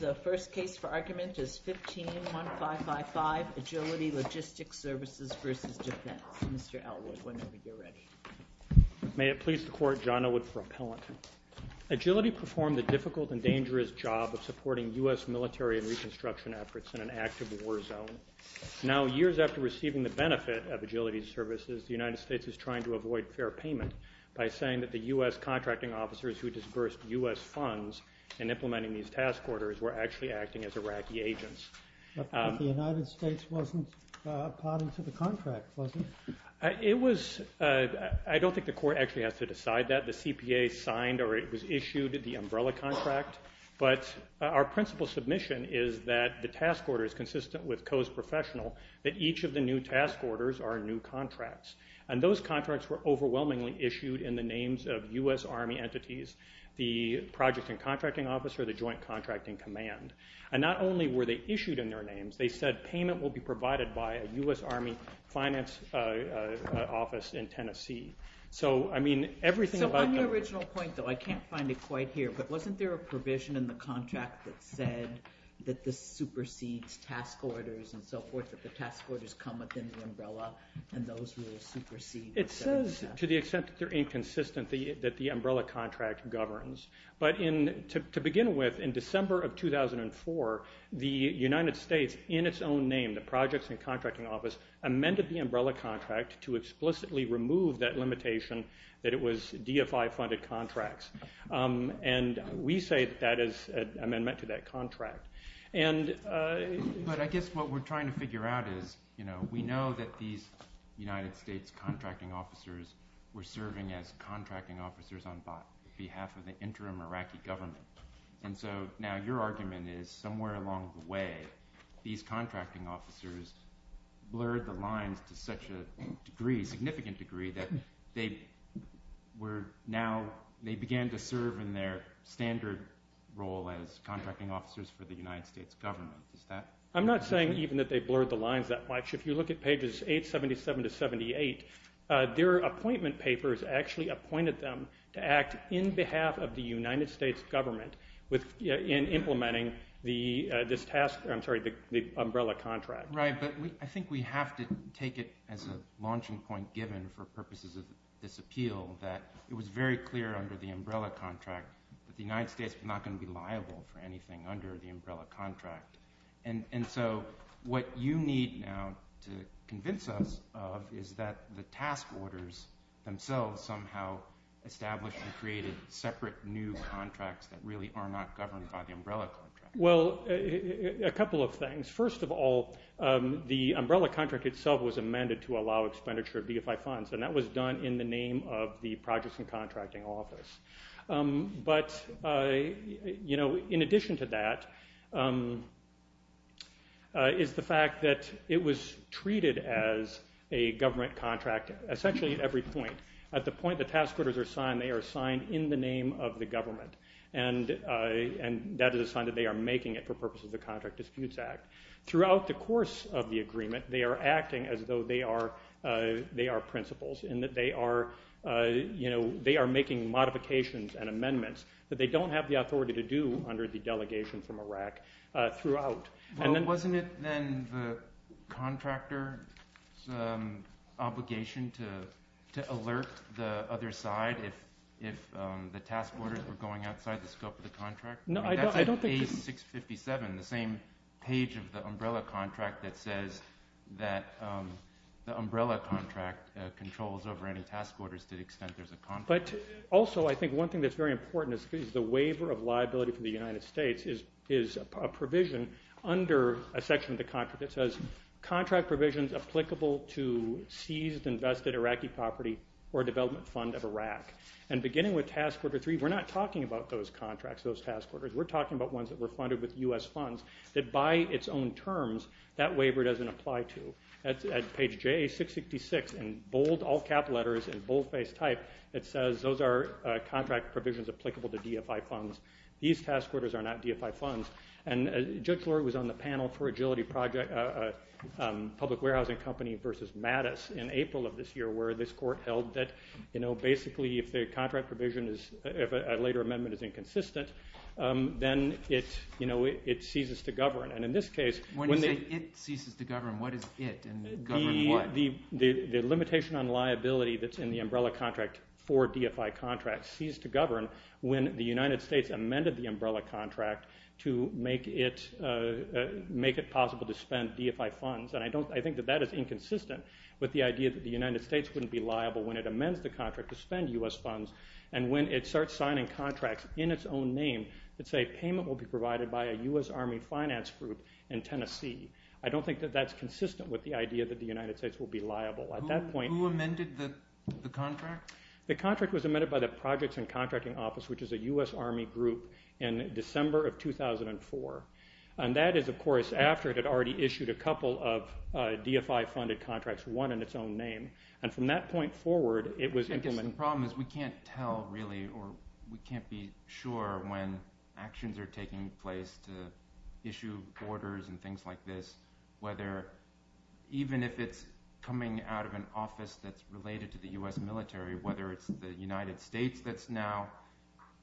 May it please the Court, John Elwood for Appellant. Agility performed the difficult and dangerous job of supporting U.S. military and reconstruction efforts in an active war zone. Now, years after receiving the benefit of Agility Services, the United States is trying to avoid fair payment by saying that the U.S. contracting officers who disbursed U.S. funds in implementing these task orders were actually acting as Iraqi agents. But the United States wasn't part of the contract, was it? It was, I don't think the Court actually has to decide that. The CPA signed or it was issued the umbrella contract. But our principal submission is that the task order is consistent with Coe's Professional, that each of the new task orders are new contracts. And those contracts were overwhelmingly issued in the names of U.S. Army entities, the Project and Contracting Officer, the Joint Contracting Command. And not only were they issued in their names, they said payment will be provided by a U.S. Army finance office in Tennessee. So I mean, everything about the... So on your original point, though, I can't find it quite here, but wasn't there a provision in the contract that said that this supersedes task orders and so forth, that the task orders come within the umbrella and those were superseded? It says, to the extent that they're inconsistent, that the umbrella contract governs. But to begin with, in December of 2004, the United States, in its own name, the Projects and Contracting Office, amended the umbrella contract to explicitly remove that limitation that it was DFI-funded contracts. And we say that that is an amendment to that contract. But I guess what we're trying to figure out is, we know that these United States contracting officers were serving as contracting officers on behalf of the interim Iraqi government. And so now your argument is, somewhere along the way, these contracting officers blurred the lines to such a degree, significant degree, that they were now, they began to serve in their standard role as contracting officers for the United States government. Is that... Their appointment papers actually appointed them to act in behalf of the United States government in implementing this task, I'm sorry, the umbrella contract. Right, but I think we have to take it as a launching point given for purposes of this appeal, that it was very clear under the umbrella contract that the United States was not going to be liable for anything under the umbrella contract. And so what you need now to convince us of is that the task orders themselves somehow established and created separate new contracts that really are not governed by the umbrella contract. Well, a couple of things. First of all, the umbrella contract itself was amended to allow expenditure of DFI funds, and that was done in the name of the Projects and Contracting But, you know, in addition to that is the fact that it was treated as a government contract essentially at every point. At the point the task orders are signed, they are signed in the name of the government. And that is a sign that they are making it for purposes of the Contract Disputes Act. Throughout the course of the agreement, they are acting as though they are principals, and that they are making modifications and amendments that they don't have the authority to do under the delegation from Iraq throughout. Well, wasn't it then the contractor's obligation to alert the other side if the task orders were going outside the scope of the contract? No, I don't think so. In page 657, the same page of the umbrella contract that says that the umbrella contract controls over any task orders to the extent there is a contract. But, also, I think one thing that is very important is the waiver of liability from the United States is a provision under a section of the contract that says, contract provisions applicable to seized, invested Iraqi property or development fund of Iraq. And beginning with Task Order 3, we are not talking about those contracts, those task orders. We are talking about ones that were funded with U.S. funds that, by its own terms, that waiver doesn't apply to. At page JA666, in bold all-cap letters, in bold-face type, it says, those are contract provisions applicable to DFI funds. These task orders are not DFI funds. And Judge Lord was on the panel for Agility Project, a public warehousing company, versus Mattis in April of this year, where this court held that, you know, it ceases to govern. When you say it ceases to govern, what is it? The limitation on liability that's in the umbrella contract for DFI contracts ceased to govern when the United States amended the umbrella contract to make it possible to spend DFI funds. And I think that that is inconsistent with the idea that the United States wouldn't be liable when it amends the contract to spend U.S. funds. And when it starts signing contracts in its own name that say payment will be provided by a U.S. Army finance group in Tennessee, I don't think that that's consistent with the idea that the United States will be liable. Who amended the contract? The contract was amended by the Projects and Contracting Office, which is a U.S. Army group, in December of 2004. And that is, of course, after it had already issued a couple of DFI-funded contracts, And from that point forward, it was imminent. The problem is we can't tell really or we can't be sure when actions are taking place to issue orders and things like this, whether even if it's coming out of an office that's related to the U.S. military, whether it's the United States that's now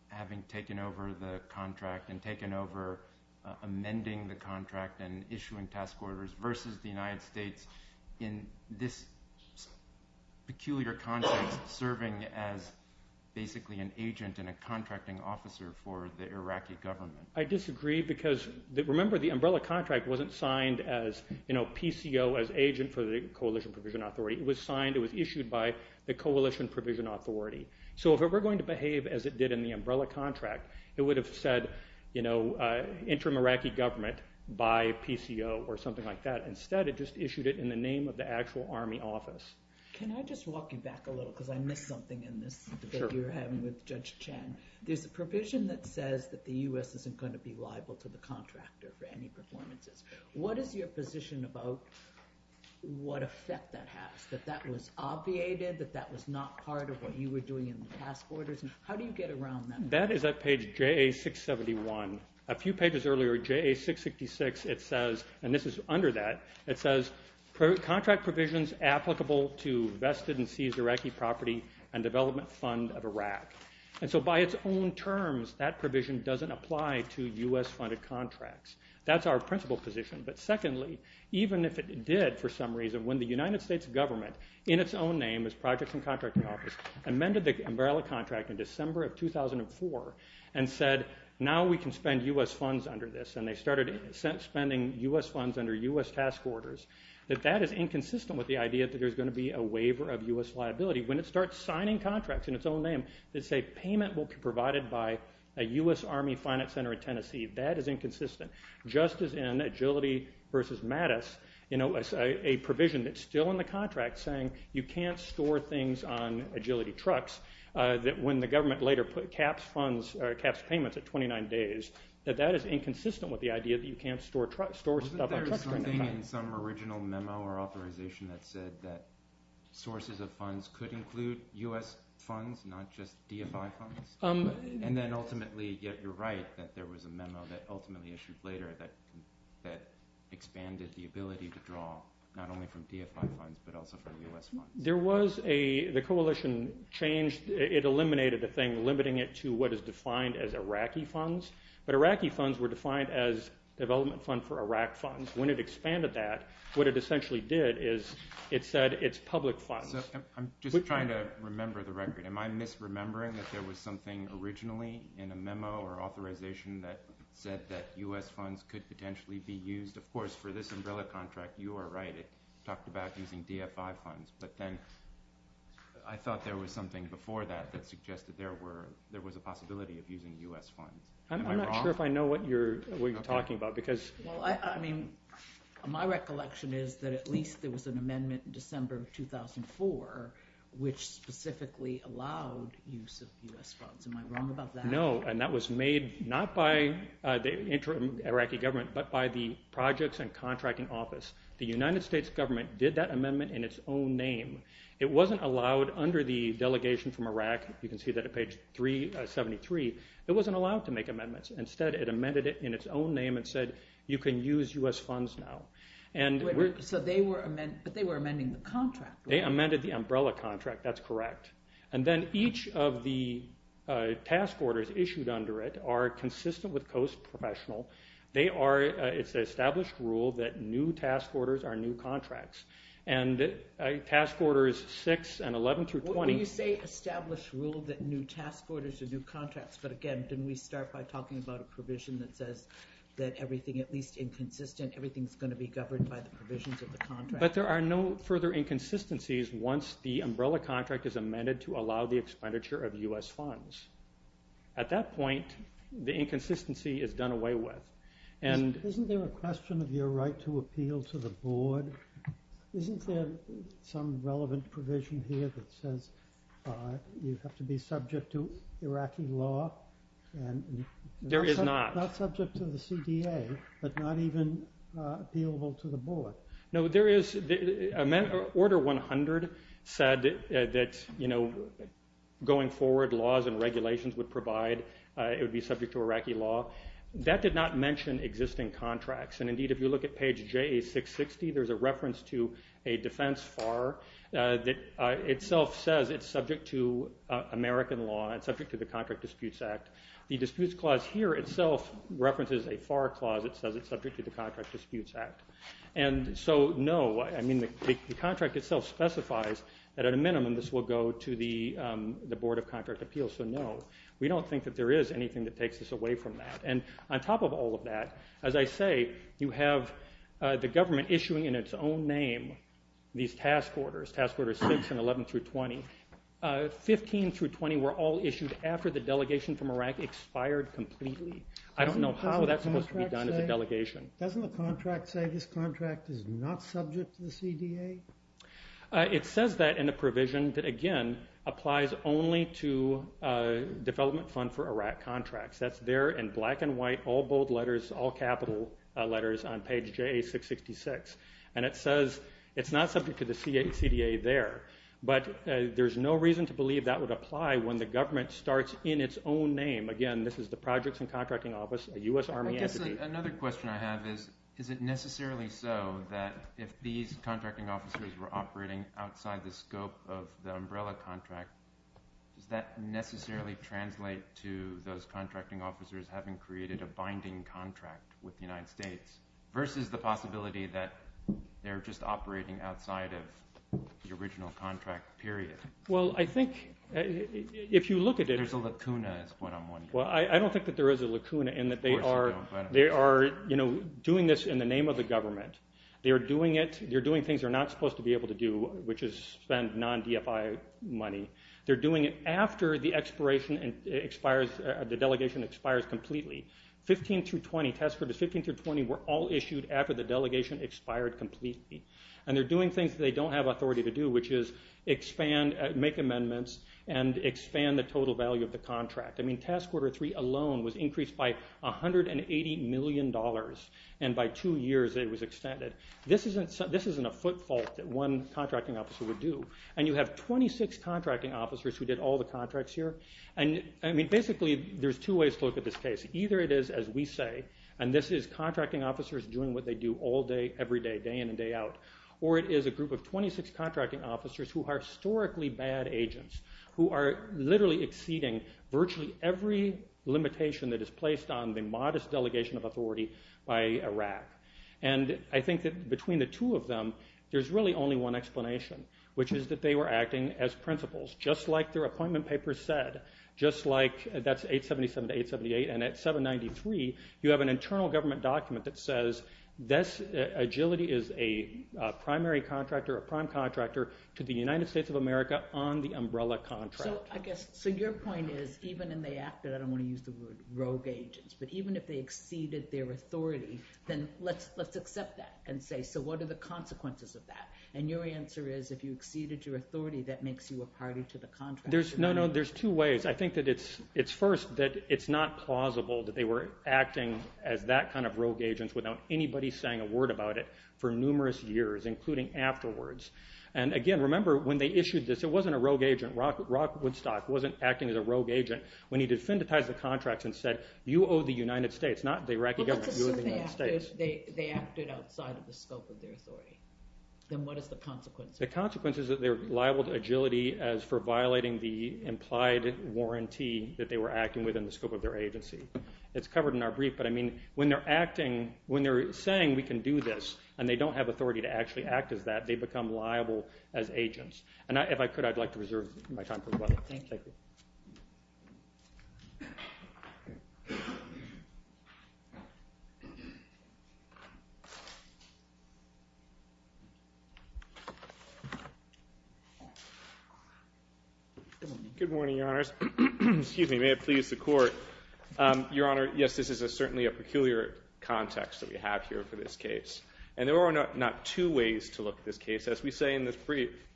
having taken over the contract and taken over amending the contract and issuing task orders versus the United States in this peculiar context serving as basically an agent and a contracting officer for the Iraqi government. I disagree because remember the umbrella contract wasn't signed as PCO, as agent for the Coalition Provision Authority. It was signed, it was issued by the Coalition Provision Authority. So if it were going to behave as it did in the umbrella contract, it would have said interim Iraqi government by PCO or something like that. Instead, it just issued it in the name of the actual Army office. Can I just walk you back a little because I missed something in this debate you were having with Judge Chan. There's a provision that says that the U.S. isn't going to be liable to the contractor for any performances. What is your position about what effect that has, that that was obviated, that that was not part of what you were doing in the task orders? How do you get around that? That is at page JA671. A few pages earlier, JA666, it says, and this is under that, it says contract provisions applicable to vested and seized Iraqi property and development fund of Iraq. And so by its own terms, that provision doesn't apply to U.S.-funded contracts. That's our principal position. But secondly, even if it did for some reason, when the United States government in its own name as Projects and Contracting Office amended the umbrella contract in December of 2004 and said, now we can spend U.S. funds under this, and they started spending U.S. funds under U.S. task orders, that that is inconsistent with the idea that there's going to be a waiver of U.S. liability. When it starts signing contracts in its own name that say payment will be provided by a U.S. Army finance center in Tennessee, that is inconsistent, just as in Agility v. Mattis, a provision that's still in the contract saying you can't store things on Agility trucks, that when the government later caps payments at 29 days, that that is inconsistent with the idea that you can't store stuff on trucks during that time. Wasn't there something in some original memo or authorization that said that sources of funds could include U.S. funds, not just DFI funds? And then ultimately, you're right, that there was a memo that ultimately issued later that expanded the ability to draw not only from DFI funds but also from U.S. funds. There was a, the coalition changed, it eliminated a thing limiting it to what is defined as Iraqi funds, but Iraqi funds were defined as development fund for Iraq funds. When it expanded that, what it essentially did is it said it's public funds. So I'm just trying to remember the record. Am I misremembering that there was something originally in a memo or authorization that said that U.S. funds could potentially be used? Of course, for this umbrella contract, you are right, it talked about using DFI funds, but then I thought there was something before that that suggested there were, there was a possibility of using U.S. funds. Am I wrong? I'm not sure if I know what you're talking about because. Well, I mean, my recollection is that at least there was an amendment in December of 2004 which specifically allowed use of U.S. funds. Am I wrong about that? No, and that was made not by the interim Iraqi government, but by the projects and contracting office. The United States government did that amendment in its own name. It wasn't allowed under the delegation from Iraq. You can see that at page 373. It wasn't allowed to make amendments. Instead, it amended it in its own name and said you can use U.S. funds now. So they were, but they were amending the contract. They amended the umbrella contract, that's correct. And then each of the task orders issued under it are consistent with COAST Professional. They are, it's an established rule that new task orders are new contracts. And task orders 6 and 11 through 20. When you say established rule that new task orders are new contracts, but again, didn't we start by talking about a provision that says that everything, at least inconsistent, everything's going to be governed by the provisions of the contract? But there are no further inconsistencies once the umbrella contract is amended to allow the expenditure of U.S. funds. At that point, the inconsistency is done away with. Isn't there a question of your right to appeal to the board? Isn't there some relevant provision here that says you have to be subject to Iraqi law? There is not. Not subject to the CDA, but not even appealable to the board. No, there is. Order 100 said that going forward, laws and regulations would provide it would be subject to Iraqi law. That did not mention existing contracts. And indeed, if you look at page JA660, there's a reference to a defense FAR that itself says it's subject to American law and subject to the Contract Disputes Act. The disputes clause here itself references a FAR clause that says it's subject to the Contract Disputes Act. And so no, the contract itself specifies that at a minimum this will go to the Board of Contract Appeals. So no, we don't think that there is anything that takes us away from that. And on top of all of that, as I say, you have the government issuing in its own name these task orders, Task Orders 6 and 11 through 20. 15 through 20 were all issued after the delegation from Iraq expired completely. I don't know how that's supposed to be done as a delegation. Doesn't the contract say this contract is not subject to the CDA? It says that in a provision that, again, applies only to development fund for Iraq contracts. That's there in black and white, all bold letters, all capital letters on page JA666. And it says it's not subject to the CDA there. But there's no reason to believe that would apply when the government starts in its own name. Again, this is the Projects and Contracting Office, a U.S. Army entity. Another question I have is, is it necessarily so that if these contracting officers were operating outside the scope of the umbrella contract, does that necessarily translate to those contracting officers having created a binding contract with the United States versus the possibility that they're just operating outside of the original contract, period? Well, I think if you look at it- There's a lacuna is what I'm wondering. Well, I don't think that there is a lacuna in that they are doing this in the name of the government. They're doing things they're not supposed to be able to do, which is spend non-DFI money. They're doing it after the delegation expires completely. 15 through 20 were all issued after the delegation expired completely. And they're doing things they don't have authority to do, which is make amendments and expand the total value of the contract. I mean, Task Order 3 alone was increased by $180 million, and by two years it was extended. This isn't a footfall that one contracting officer would do. And you have 26 contracting officers who did all the contracts here. And basically, there's two ways to look at this case. Either it is, as we say, and this is contracting officers doing what they do all day, every day, day in and day out. Or it is a group of 26 contracting officers who are historically bad agents, who are literally exceeding virtually every limitation that is placed on the modest delegation of authority by Iraq. And I think that between the two of them, there's really only one explanation, which is that they were acting as principals, just like their appointment paper said. That's 877 to 878. And at 793, you have an internal government document that says, this agility is a primary contractor, a prime contractor, to the United States of America on the umbrella contract. So your point is, even in the act, and I don't want to use the word rogue agents, but even if they exceeded their authority, then let's accept that and say, so what are the consequences of that? And your answer is, if you exceeded your authority, that makes you a party to the contract. No, no, there's two ways. I think that it's first that it's not plausible that they were acting as that kind of rogue agents without anybody saying a word about it for numerous years, including afterwards. And again, remember, when they issued this, it wasn't a rogue agent. Rock Woodstock wasn't acting as a rogue agent when he defendantized the contracts and said, you owe the United States, not the Iraqi government. Well, let's assume they acted outside of the scope of their authority. Then what is the consequence? The consequence is that they're liable to agility as for violating the implied warranty that they were acting within the scope of their agency. It's covered in our brief, but I mean, when they're saying, we can do this, and they don't have authority to actually act as that, they become liable as agents. And if I could, I'd like to reserve my time for rebuttal. Thank you. Good morning, Your Honors. Excuse me. May it please the Court. Your Honor, yes, this is certainly a peculiar context that we have here for this case. And there are not two ways to look at this case. As we say in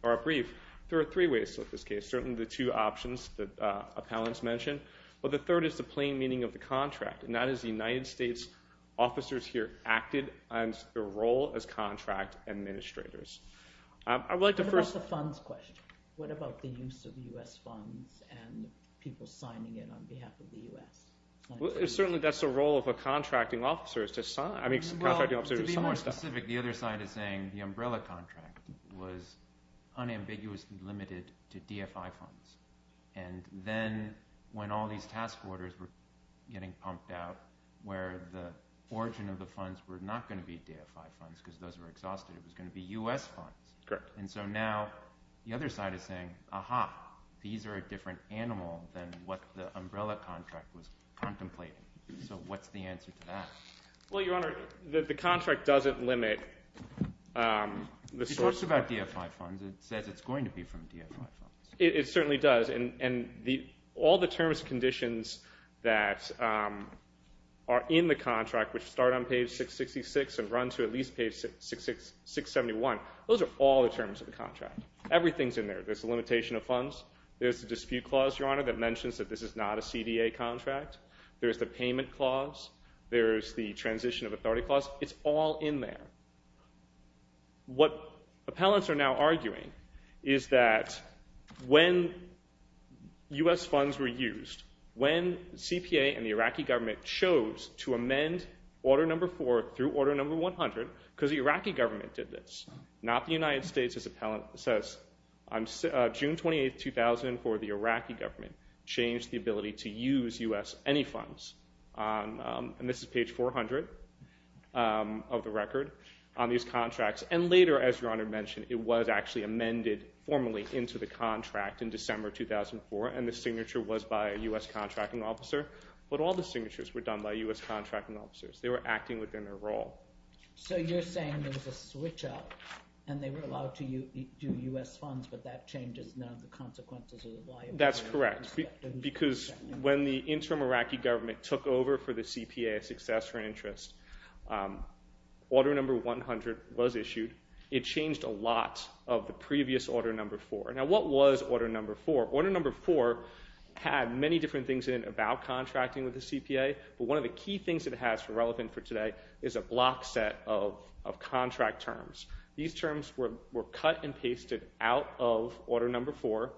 our brief, there are three ways to look at this case, certainly the two options that appellants mentioned. But the third is the plain meaning of the contract, and that is the United States officers here acted on their role as contract administrators. What about the funds question? What about the use of the U.S. funds and people signing it on behalf of the U.S.? Well, certainly that's the role of a contracting officer is to sign. I mean, contracting officers do some more stuff. Well, to be more specific, the other side is saying the umbrella contract was unambiguously limited to DFI funds. And then when all these task orders were getting pumped out where the origin of the funds were not going to be DFI funds because those were exhausted. It was going to be U.S. funds. Correct. And so now the other side is saying, aha, these are a different animal than what the umbrella contract was contemplating. So what's the answer to that? Well, Your Honor, the contract doesn't limit the source. It talks about DFI funds. It says it's going to be from DFI funds. It certainly does. And all the terms and conditions that are in the contract, which start on page 666 and run to at least page 671, those are all the terms of the contract. Everything's in there. There's the limitation of funds. There's the dispute clause, Your Honor, that mentions that this is not a CDA contract. There's the payment clause. There's the transition of authority clause. It's all in there. What appellants are now arguing is that when U.S. funds were used, when CPA and the Iraqi government chose to amend Order No. 4 through Order No. 100 because the Iraqi government did this, not the United States. This appellant says June 28, 2004, the Iraqi government changed the ability to use U.S. And this is page 400 of the record on these contracts. And later, as Your Honor mentioned, it was actually amended formally into the contract in December 2004, and the signature was by a U.S. contracting officer. But all the signatures were done by U.S. contracting officers. They were acting within their role. So you're saying there's a switch-up, and they were allowed to do U.S. funds, but that changes none of the consequences of the liability? That's correct. Because when the interim Iraqi government took over for the CPA, a successor in interest, Order No. 100 was issued. It changed a lot of the previous Order No. 4. Now, what was Order No. 4? Order No. 4 had many different things in it about contracting with the CPA. But one of the key things it has relevant for today is a block set of contract terms. These terms were cut and pasted out of Order No. 4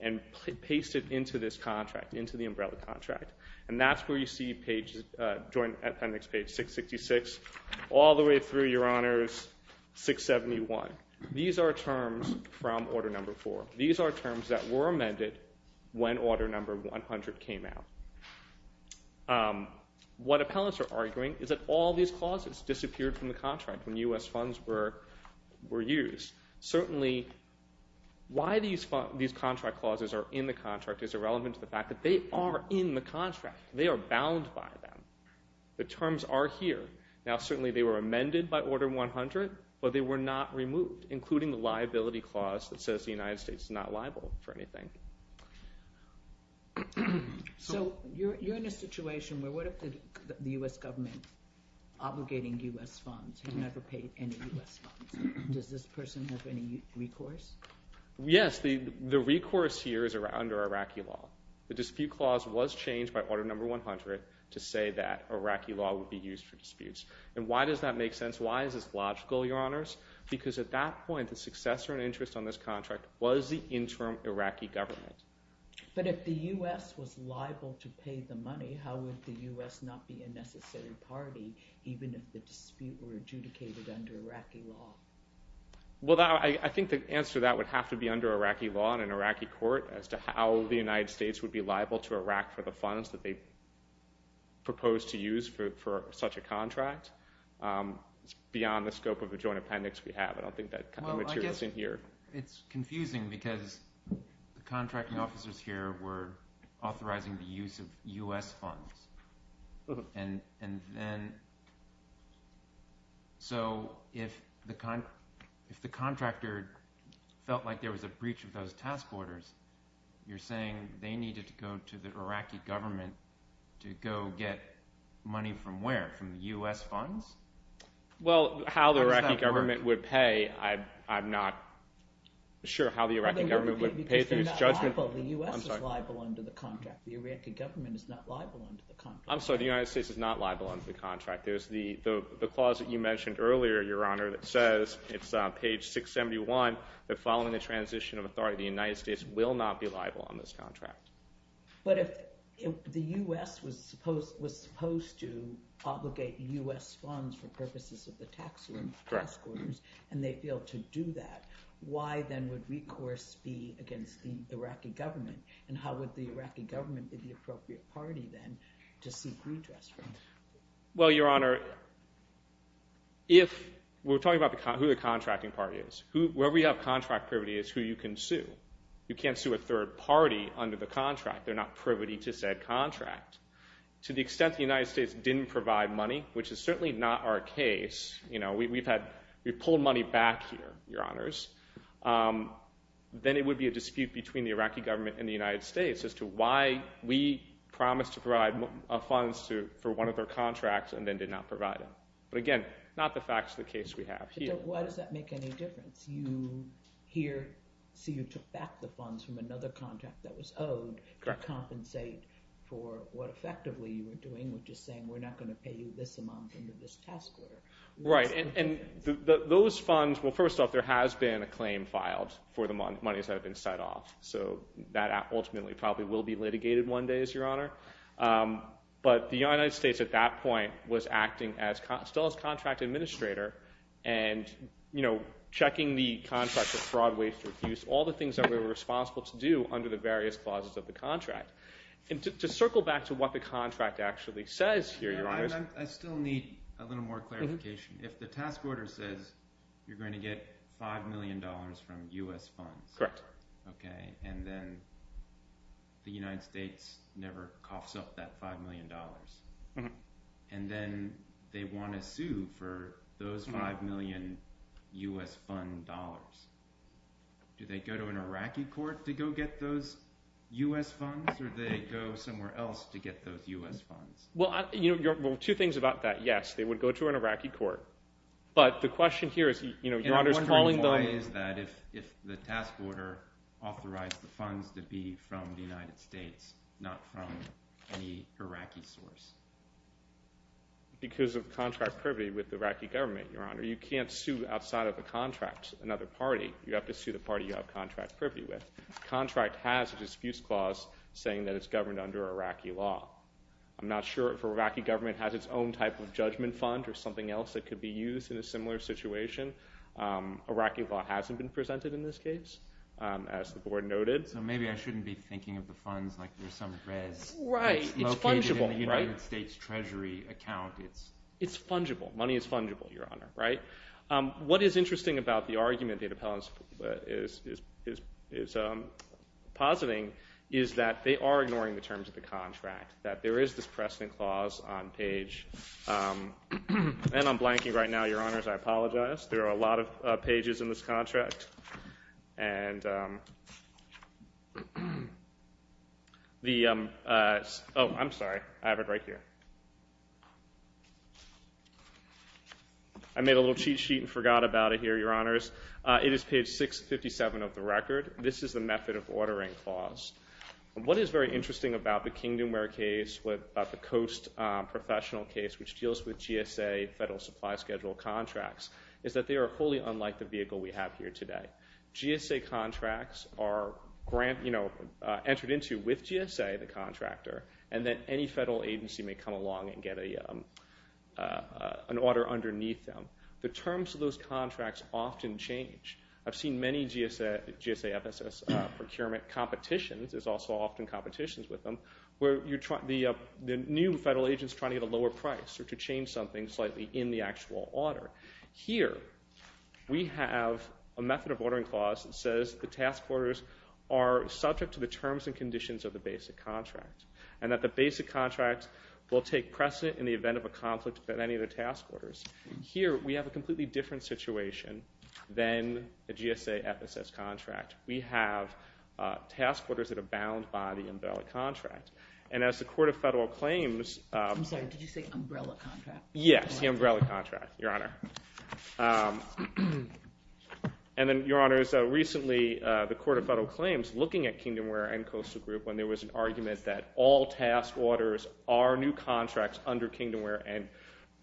and pasted into this contract, into the umbrella contract. And that's where you see joint appendix page 666 all the way through, Your Honors, 671. These are terms from Order No. 4. These are terms that were amended when Order No. 100 came out. What appellants are arguing is that all these clauses disappeared from the contract when U.S. funds were used. Certainly, why these contract clauses are in the contract is irrelevant to the fact that they are in the contract. They are bound by them. The terms are here. Now, certainly they were amended by Order No. 100, but they were not removed, including the liability clause that says the United States is not liable for anything. So you're in a situation where what if the U.S. government obligating U.S. funds has never paid any U.S. funds? Does this person have any recourse? Yes. The recourse here is under Iraqi law. The dispute clause was changed by Order No. 100 to say that Iraqi law would be used for disputes. And why does that make sense? Why is this logical, Your Honors? Because at that point, the successor and interest on this contract was the interim Iraqi government. But if the U.S. was liable to pay the money, how would the U.S. not be a necessary party, even if the dispute were adjudicated under Iraqi law? Well, I think the answer to that would have to be under Iraqi law and an Iraqi court as to how the United States would be liable to Iraq for the funds that they proposed to use for such a contract. It's beyond the scope of the joint appendix we have. I don't think that kind of material is in here. Well, I guess it's confusing because the contracting officers here were authorizing the use of U.S. funds. And then so if the contractor felt like there was a breach of those task orders, you're saying they needed to go to the Iraqi government to go get money from where? From U.S. funds? Well, how the Iraqi government would pay, I'm not sure how the Iraqi government would pay through its judgment. Because they're not liable. The U.S. is liable under the contract. The Iraqi government is not liable under the contract. I'm sorry, the United States is not liable under the contract. There's the clause that you mentioned earlier, Your Honor, that says, it's on page 671, that following the transition of authority, the United States will not be liable on this contract. But if the U.S. was supposed to obligate U.S. funds for purposes of the task orders, and they failed to do that, why then would recourse be against the Iraqi government? And how would the Iraqi government be the appropriate party then to seek redress for that? Well, Your Honor, if we're talking about who the contracting party is, whoever you have contract privity is who you can sue. You can't sue a third party under the contract. They're not privity to said contract. To the extent the United States didn't provide money, which is certainly not our case, you know, we've had, we've pulled money back here, Your Honors. Then it would be a dispute between the Iraqi government and the United States as to why we promised to provide funds for one of their contracts and then did not provide them. But again, not the facts of the case we have here. Why does that make any difference? You here, so you took back the funds from another contract that was owed to compensate for what effectively you were doing, which is saying we're not going to pay you this amount under this task order. Right. And those funds, well, first off, there has been a claim filed for the monies that have been set off. So that ultimately probably will be litigated one day, Your Honor. But the United States at that point was acting still as contract administrator and, you know, checking the contract for fraud, waste, or abuse, all the things that we were responsible to do under the various clauses of the contract. And to circle back to what the contract actually says here, Your Honors. I still need a little more clarification. If the task order says you're going to get $5 million from U.S. funds. Correct. Okay. And then the United States never coughs up that $5 million. And then they want to sue for those $5 million U.S. fund dollars. Do they go to an Iraqi court to go get those U.S. funds or do they go somewhere else to get those U.S. funds? Well, two things about that. Yes, they would go to an Iraqi court. And I'm wondering why is that if the task order authorized the funds to be from the United States, not from any Iraqi source? Because of contract privity with the Iraqi government, Your Honor. You can't sue outside of the contract another party. You have to sue the party you have contract privity with. The contract has a dispute clause saying that it's governed under Iraqi law. I'm not sure if Iraqi government has its own type of judgment fund or something else that could be used in a similar situation. Iraqi law hasn't been presented in this case, as the board noted. So maybe I shouldn't be thinking of the funds like they're some res located in the United States Treasury account. It's fungible. Money is fungible, Your Honor. What is interesting about the argument that Appellant is positing is that they are ignoring the terms of the contract, that there is this precedent clause on page. And I'm blanking right now, Your Honors. I apologize. There are a lot of pages in this contract. Oh, I'm sorry. I have it right here. I made a little cheat sheet and forgot about it here, Your Honors. It is page 657 of the record. This is the method of ordering clause. What is very interesting about the Kingdomware case, about the Coast professional case, which deals with GSA federal supply schedule contracts, is that they are wholly unlike the vehicle we have here today. GSA contracts are entered into with GSA, the contractor, and then any federal agency may come along and get an order underneath them. The terms of those contracts often change. I've seen many GSA FSS procurement competitions, there's also often competitions with them, where the new federal agent is trying to get a lower price or to change something slightly in the actual order. Here, we have a method of ordering clause that says the task orders are subject to the terms and conditions of the basic contract, and that the basic contract will take precedent in the event of a conflict with any of the task orders. Here, we have a completely different situation than the GSA FSS contract. We have task orders that are bound by the umbrella contract. And as the Court of Federal Claims- I'm sorry, did you say umbrella contract? Yes, the umbrella contract, Your Honor. And then, Your Honors, recently, the Court of Federal Claims, looking at Kingdomware and Coastal Group, when there was an argument that all task orders are new contracts under Kingdomware and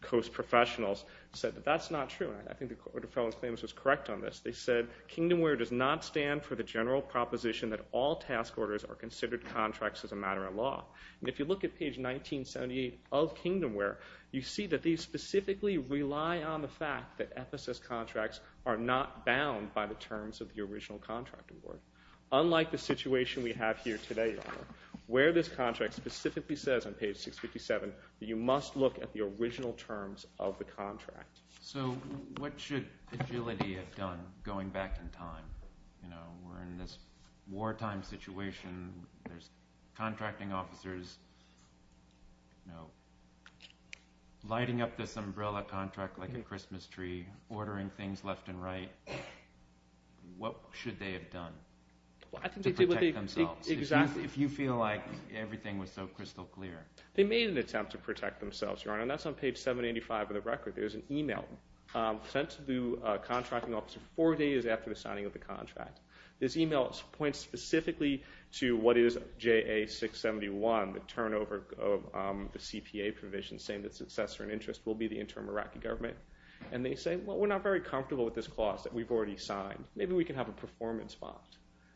Coast professionals, said that that's not true. And I think the Court of Federal Claims was correct on this. They said, Kingdomware does not stand for the general proposition that all task orders are considered contracts as a matter of law. And if you look at page 1978 of Kingdomware, you see that they specifically rely on the fact that FSS contracts are not bound by the terms of the original contract award. Unlike the situation we have here today, Your Honor, where this contract specifically says on page 657 that you must look at the original terms of the contract. So what should agility have done going back in time? You know, we're in this wartime situation. There's contracting officers lighting up this umbrella contract like a Christmas tree, ordering things left and right. What should they have done to protect themselves if you feel like everything was so crystal clear? They made an attempt to protect themselves, Your Honor, and that's on page 785 of the record. There's an email sent to the contracting officer four days after the signing of the contract. This email points specifically to what is JA671, the turnover of the CPA provision, saying that successor in interest will be the interim Iraqi government. And they say, well, we're not very comfortable with this clause that we've already signed. Maybe we can have a performance bond.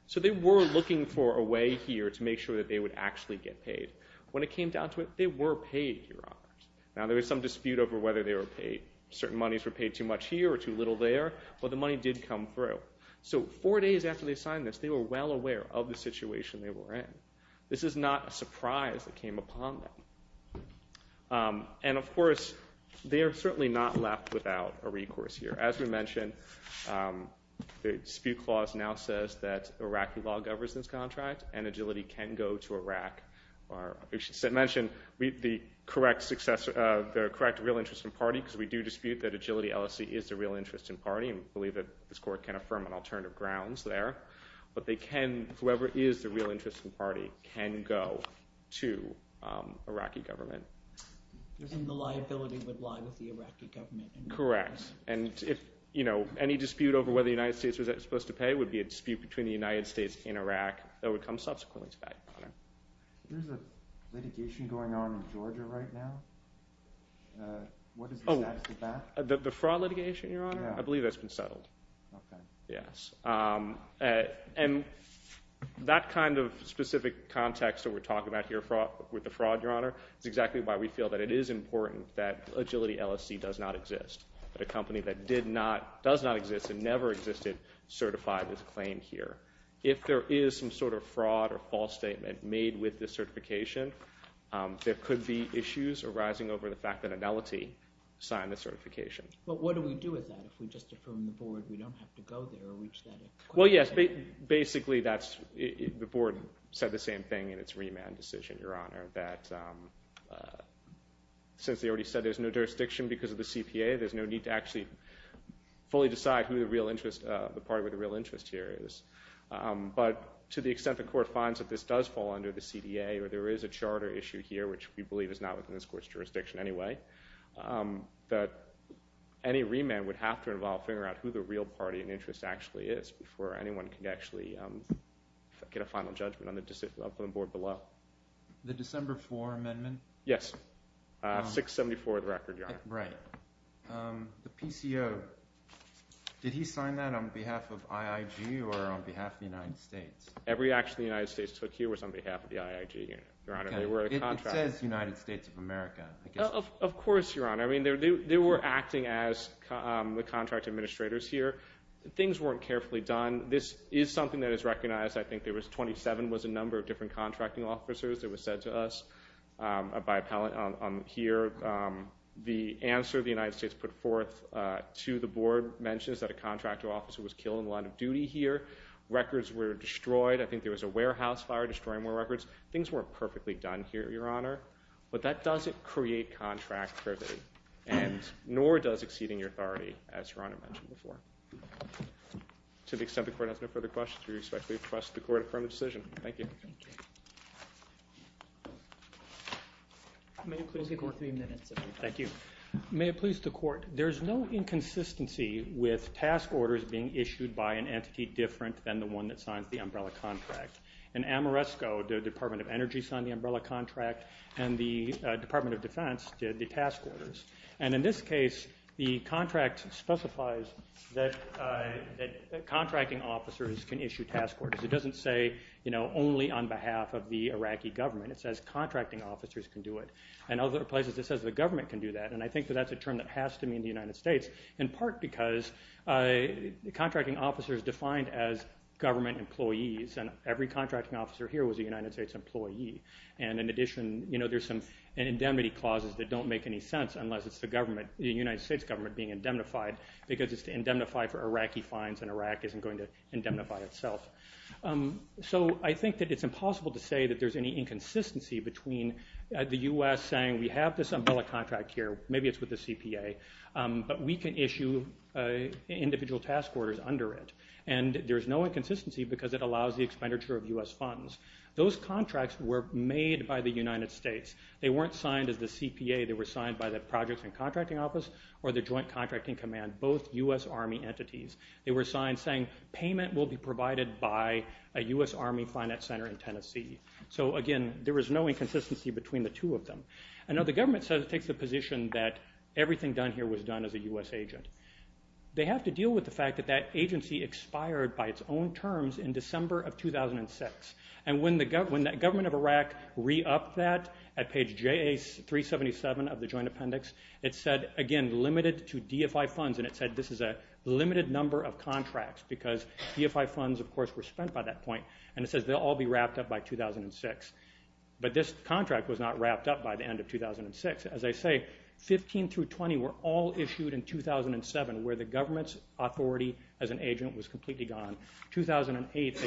So they were looking for a way here to make sure that they would actually get paid. When it came down to it, they were paid, Your Honor. Now, there was some dispute over whether they were paid. Certain monies were paid too much here or too little there, but the money did come through. So four days after they signed this, they were well aware of the situation they were in. This is not a surprise that came upon them. And, of course, they are certainly not left without a recourse here. As we mentioned, the dispute clause now says that Iraqi law governs this contract and agility can go to Iraq. We should mention the correct real interest in party because we do dispute that agility LLC is the real interest in party. We believe that this court can affirm on alternative grounds there. But whoever is the real interest in party can go to Iraqi government. And the liability would lie with the Iraqi government. Correct. And any dispute over whether the United States was supposed to pay would be a dispute between the United States and Iraq. That would come subsequently to back, Your Honor. There's a litigation going on in Georgia right now. What is the status of that? The fraud litigation, Your Honor? I believe that's been settled. Okay. Yes. And that kind of specific context that we're talking about here with the fraud, Your Honor, is exactly why we feel that it is important that agility LLC does not exist, that a company that does not exist and never existed certified this claim here. If there is some sort of fraud or false statement made with this certification, there could be issues arising over the fact that agility signed the certification. But what do we do with that if we just affirm the board we don't have to go there or reach that? Well, yes. Basically, the board said the same thing in its remand decision, Your Honor, that since they already said there's no jurisdiction because of the CPA, there's no need to actually fully decide who the party with the real interest here is. But to the extent the court finds that this does fall under the CDA or there is a charter issue here, which we believe is not within this court's jurisdiction anyway, that any remand would have to involve figuring out who the real party in interest actually is before anyone can actually get a final judgment up on the board below. The December 4 amendment? Yes, 674 of the record, Your Honor. Right. The PCO, did he sign that on behalf of IIG or on behalf of the United States? Every action the United States took here was on behalf of the IIG, Your Honor. It says United States of America. Of course, Your Honor. I mean, they were acting as the contract administrators here. Things weren't carefully done. This is something that is recognized. I think there was 27 was the number of different contracting officers that was said to us. Here, the answer the United States put forth to the board mentions that a contractor officer was killed in the line of duty here. Records were destroyed. I think there was a warehouse fire destroying more records. Things weren't perfectly done here, Your Honor. But that doesn't create contractivity, nor does exceeding your authority, as Your Honor mentioned before. To the extent the court has no further questions, we respectfully request the court affirm the decision. Thank you. Thank you. May it please the court. Three minutes. Thank you. May it please the court. There's no inconsistency with task orders being issued by an entity different than the one that signs the umbrella contract. In Amoresco, the Department of Energy signed the umbrella contract, and the Department of Defense did the task orders. And in this case, the contract specifies that contracting officers can issue task orders. It doesn't say, you know, only on behalf of the Iraqi government. It says contracting officers can do it. And other places, it says the government can do that. And I think that that's a term that has to mean the United States, in part because contracting officers are defined as government employees, and every contracting officer here was a United States employee. And in addition, you know, there's some indemnity clauses that don't make any sense unless it's the United States government being indemnified because it's to indemnify for Iraqi fines and Iraq isn't going to indemnify itself. So I think that it's impossible to say that there's any inconsistency between the U.S. saying we have this umbrella contract here, maybe it's with the CPA, but we can issue individual task orders under it. And there's no inconsistency because it allows the expenditure of U.S. funds. Those contracts were made by the United States. They weren't signed as the CPA. They were signed by the Projects and Contracting Office or the Joint Contracting Command, both U.S. Army entities. They were signed saying payment will be provided by a U.S. Army finance center in Tennessee. So, again, there is no inconsistency between the two of them. I know the government says it takes the position that everything done here was done as a U.S. agent. They have to deal with the fact that that agency expired by its own terms in December of 2006, and when the government of Iraq re-upped that at page 377 of the Joint Appendix, it said, again, limited to DFI funds, and it said this is a limited number of contracts because DFI funds, of course, were spent by that point, and it says they'll all be wrapped up by 2006. But this contract was not wrapped up by the end of 2006. As I say, 15 through 20 were all issued in 2007, where the government's authority as an agent was completely gone. In 2008,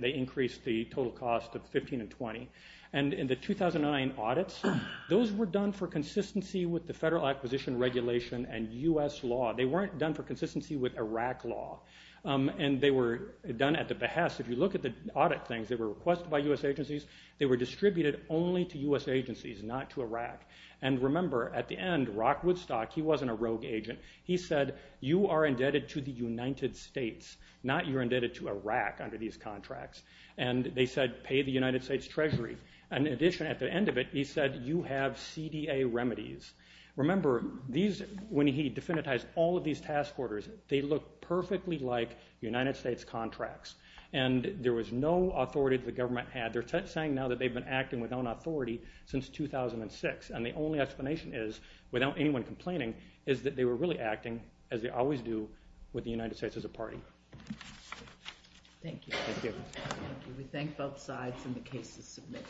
they increased the total cost of 15 and 20. And in the 2009 audits, those were done for consistency with the Federal Acquisition Regulation and U.S. law. They weren't done for consistency with Iraq law, and they were done at the behest. If you look at the audit things that were requested by U.S. agencies, they were distributed only to U.S. agencies, not to Iraq. And remember, at the end, Rock Woodstock, he wasn't a rogue agent. He said, you are indebted to the United States, not you're indebted to Iraq under these contracts. And they said, pay the United States Treasury. And in addition, at the end of it, he said, you have CDA remedies. Remember, when he definitized all of these task orders, they looked perfectly like United States contracts. And there was no authority that the government had. They're saying now that they've been acting without authority since 2006. And the only explanation is, without anyone complaining, is that they were really acting as they always do with the United States as a party. Thank you. Thank you. We thank both sides, and the case is submitted.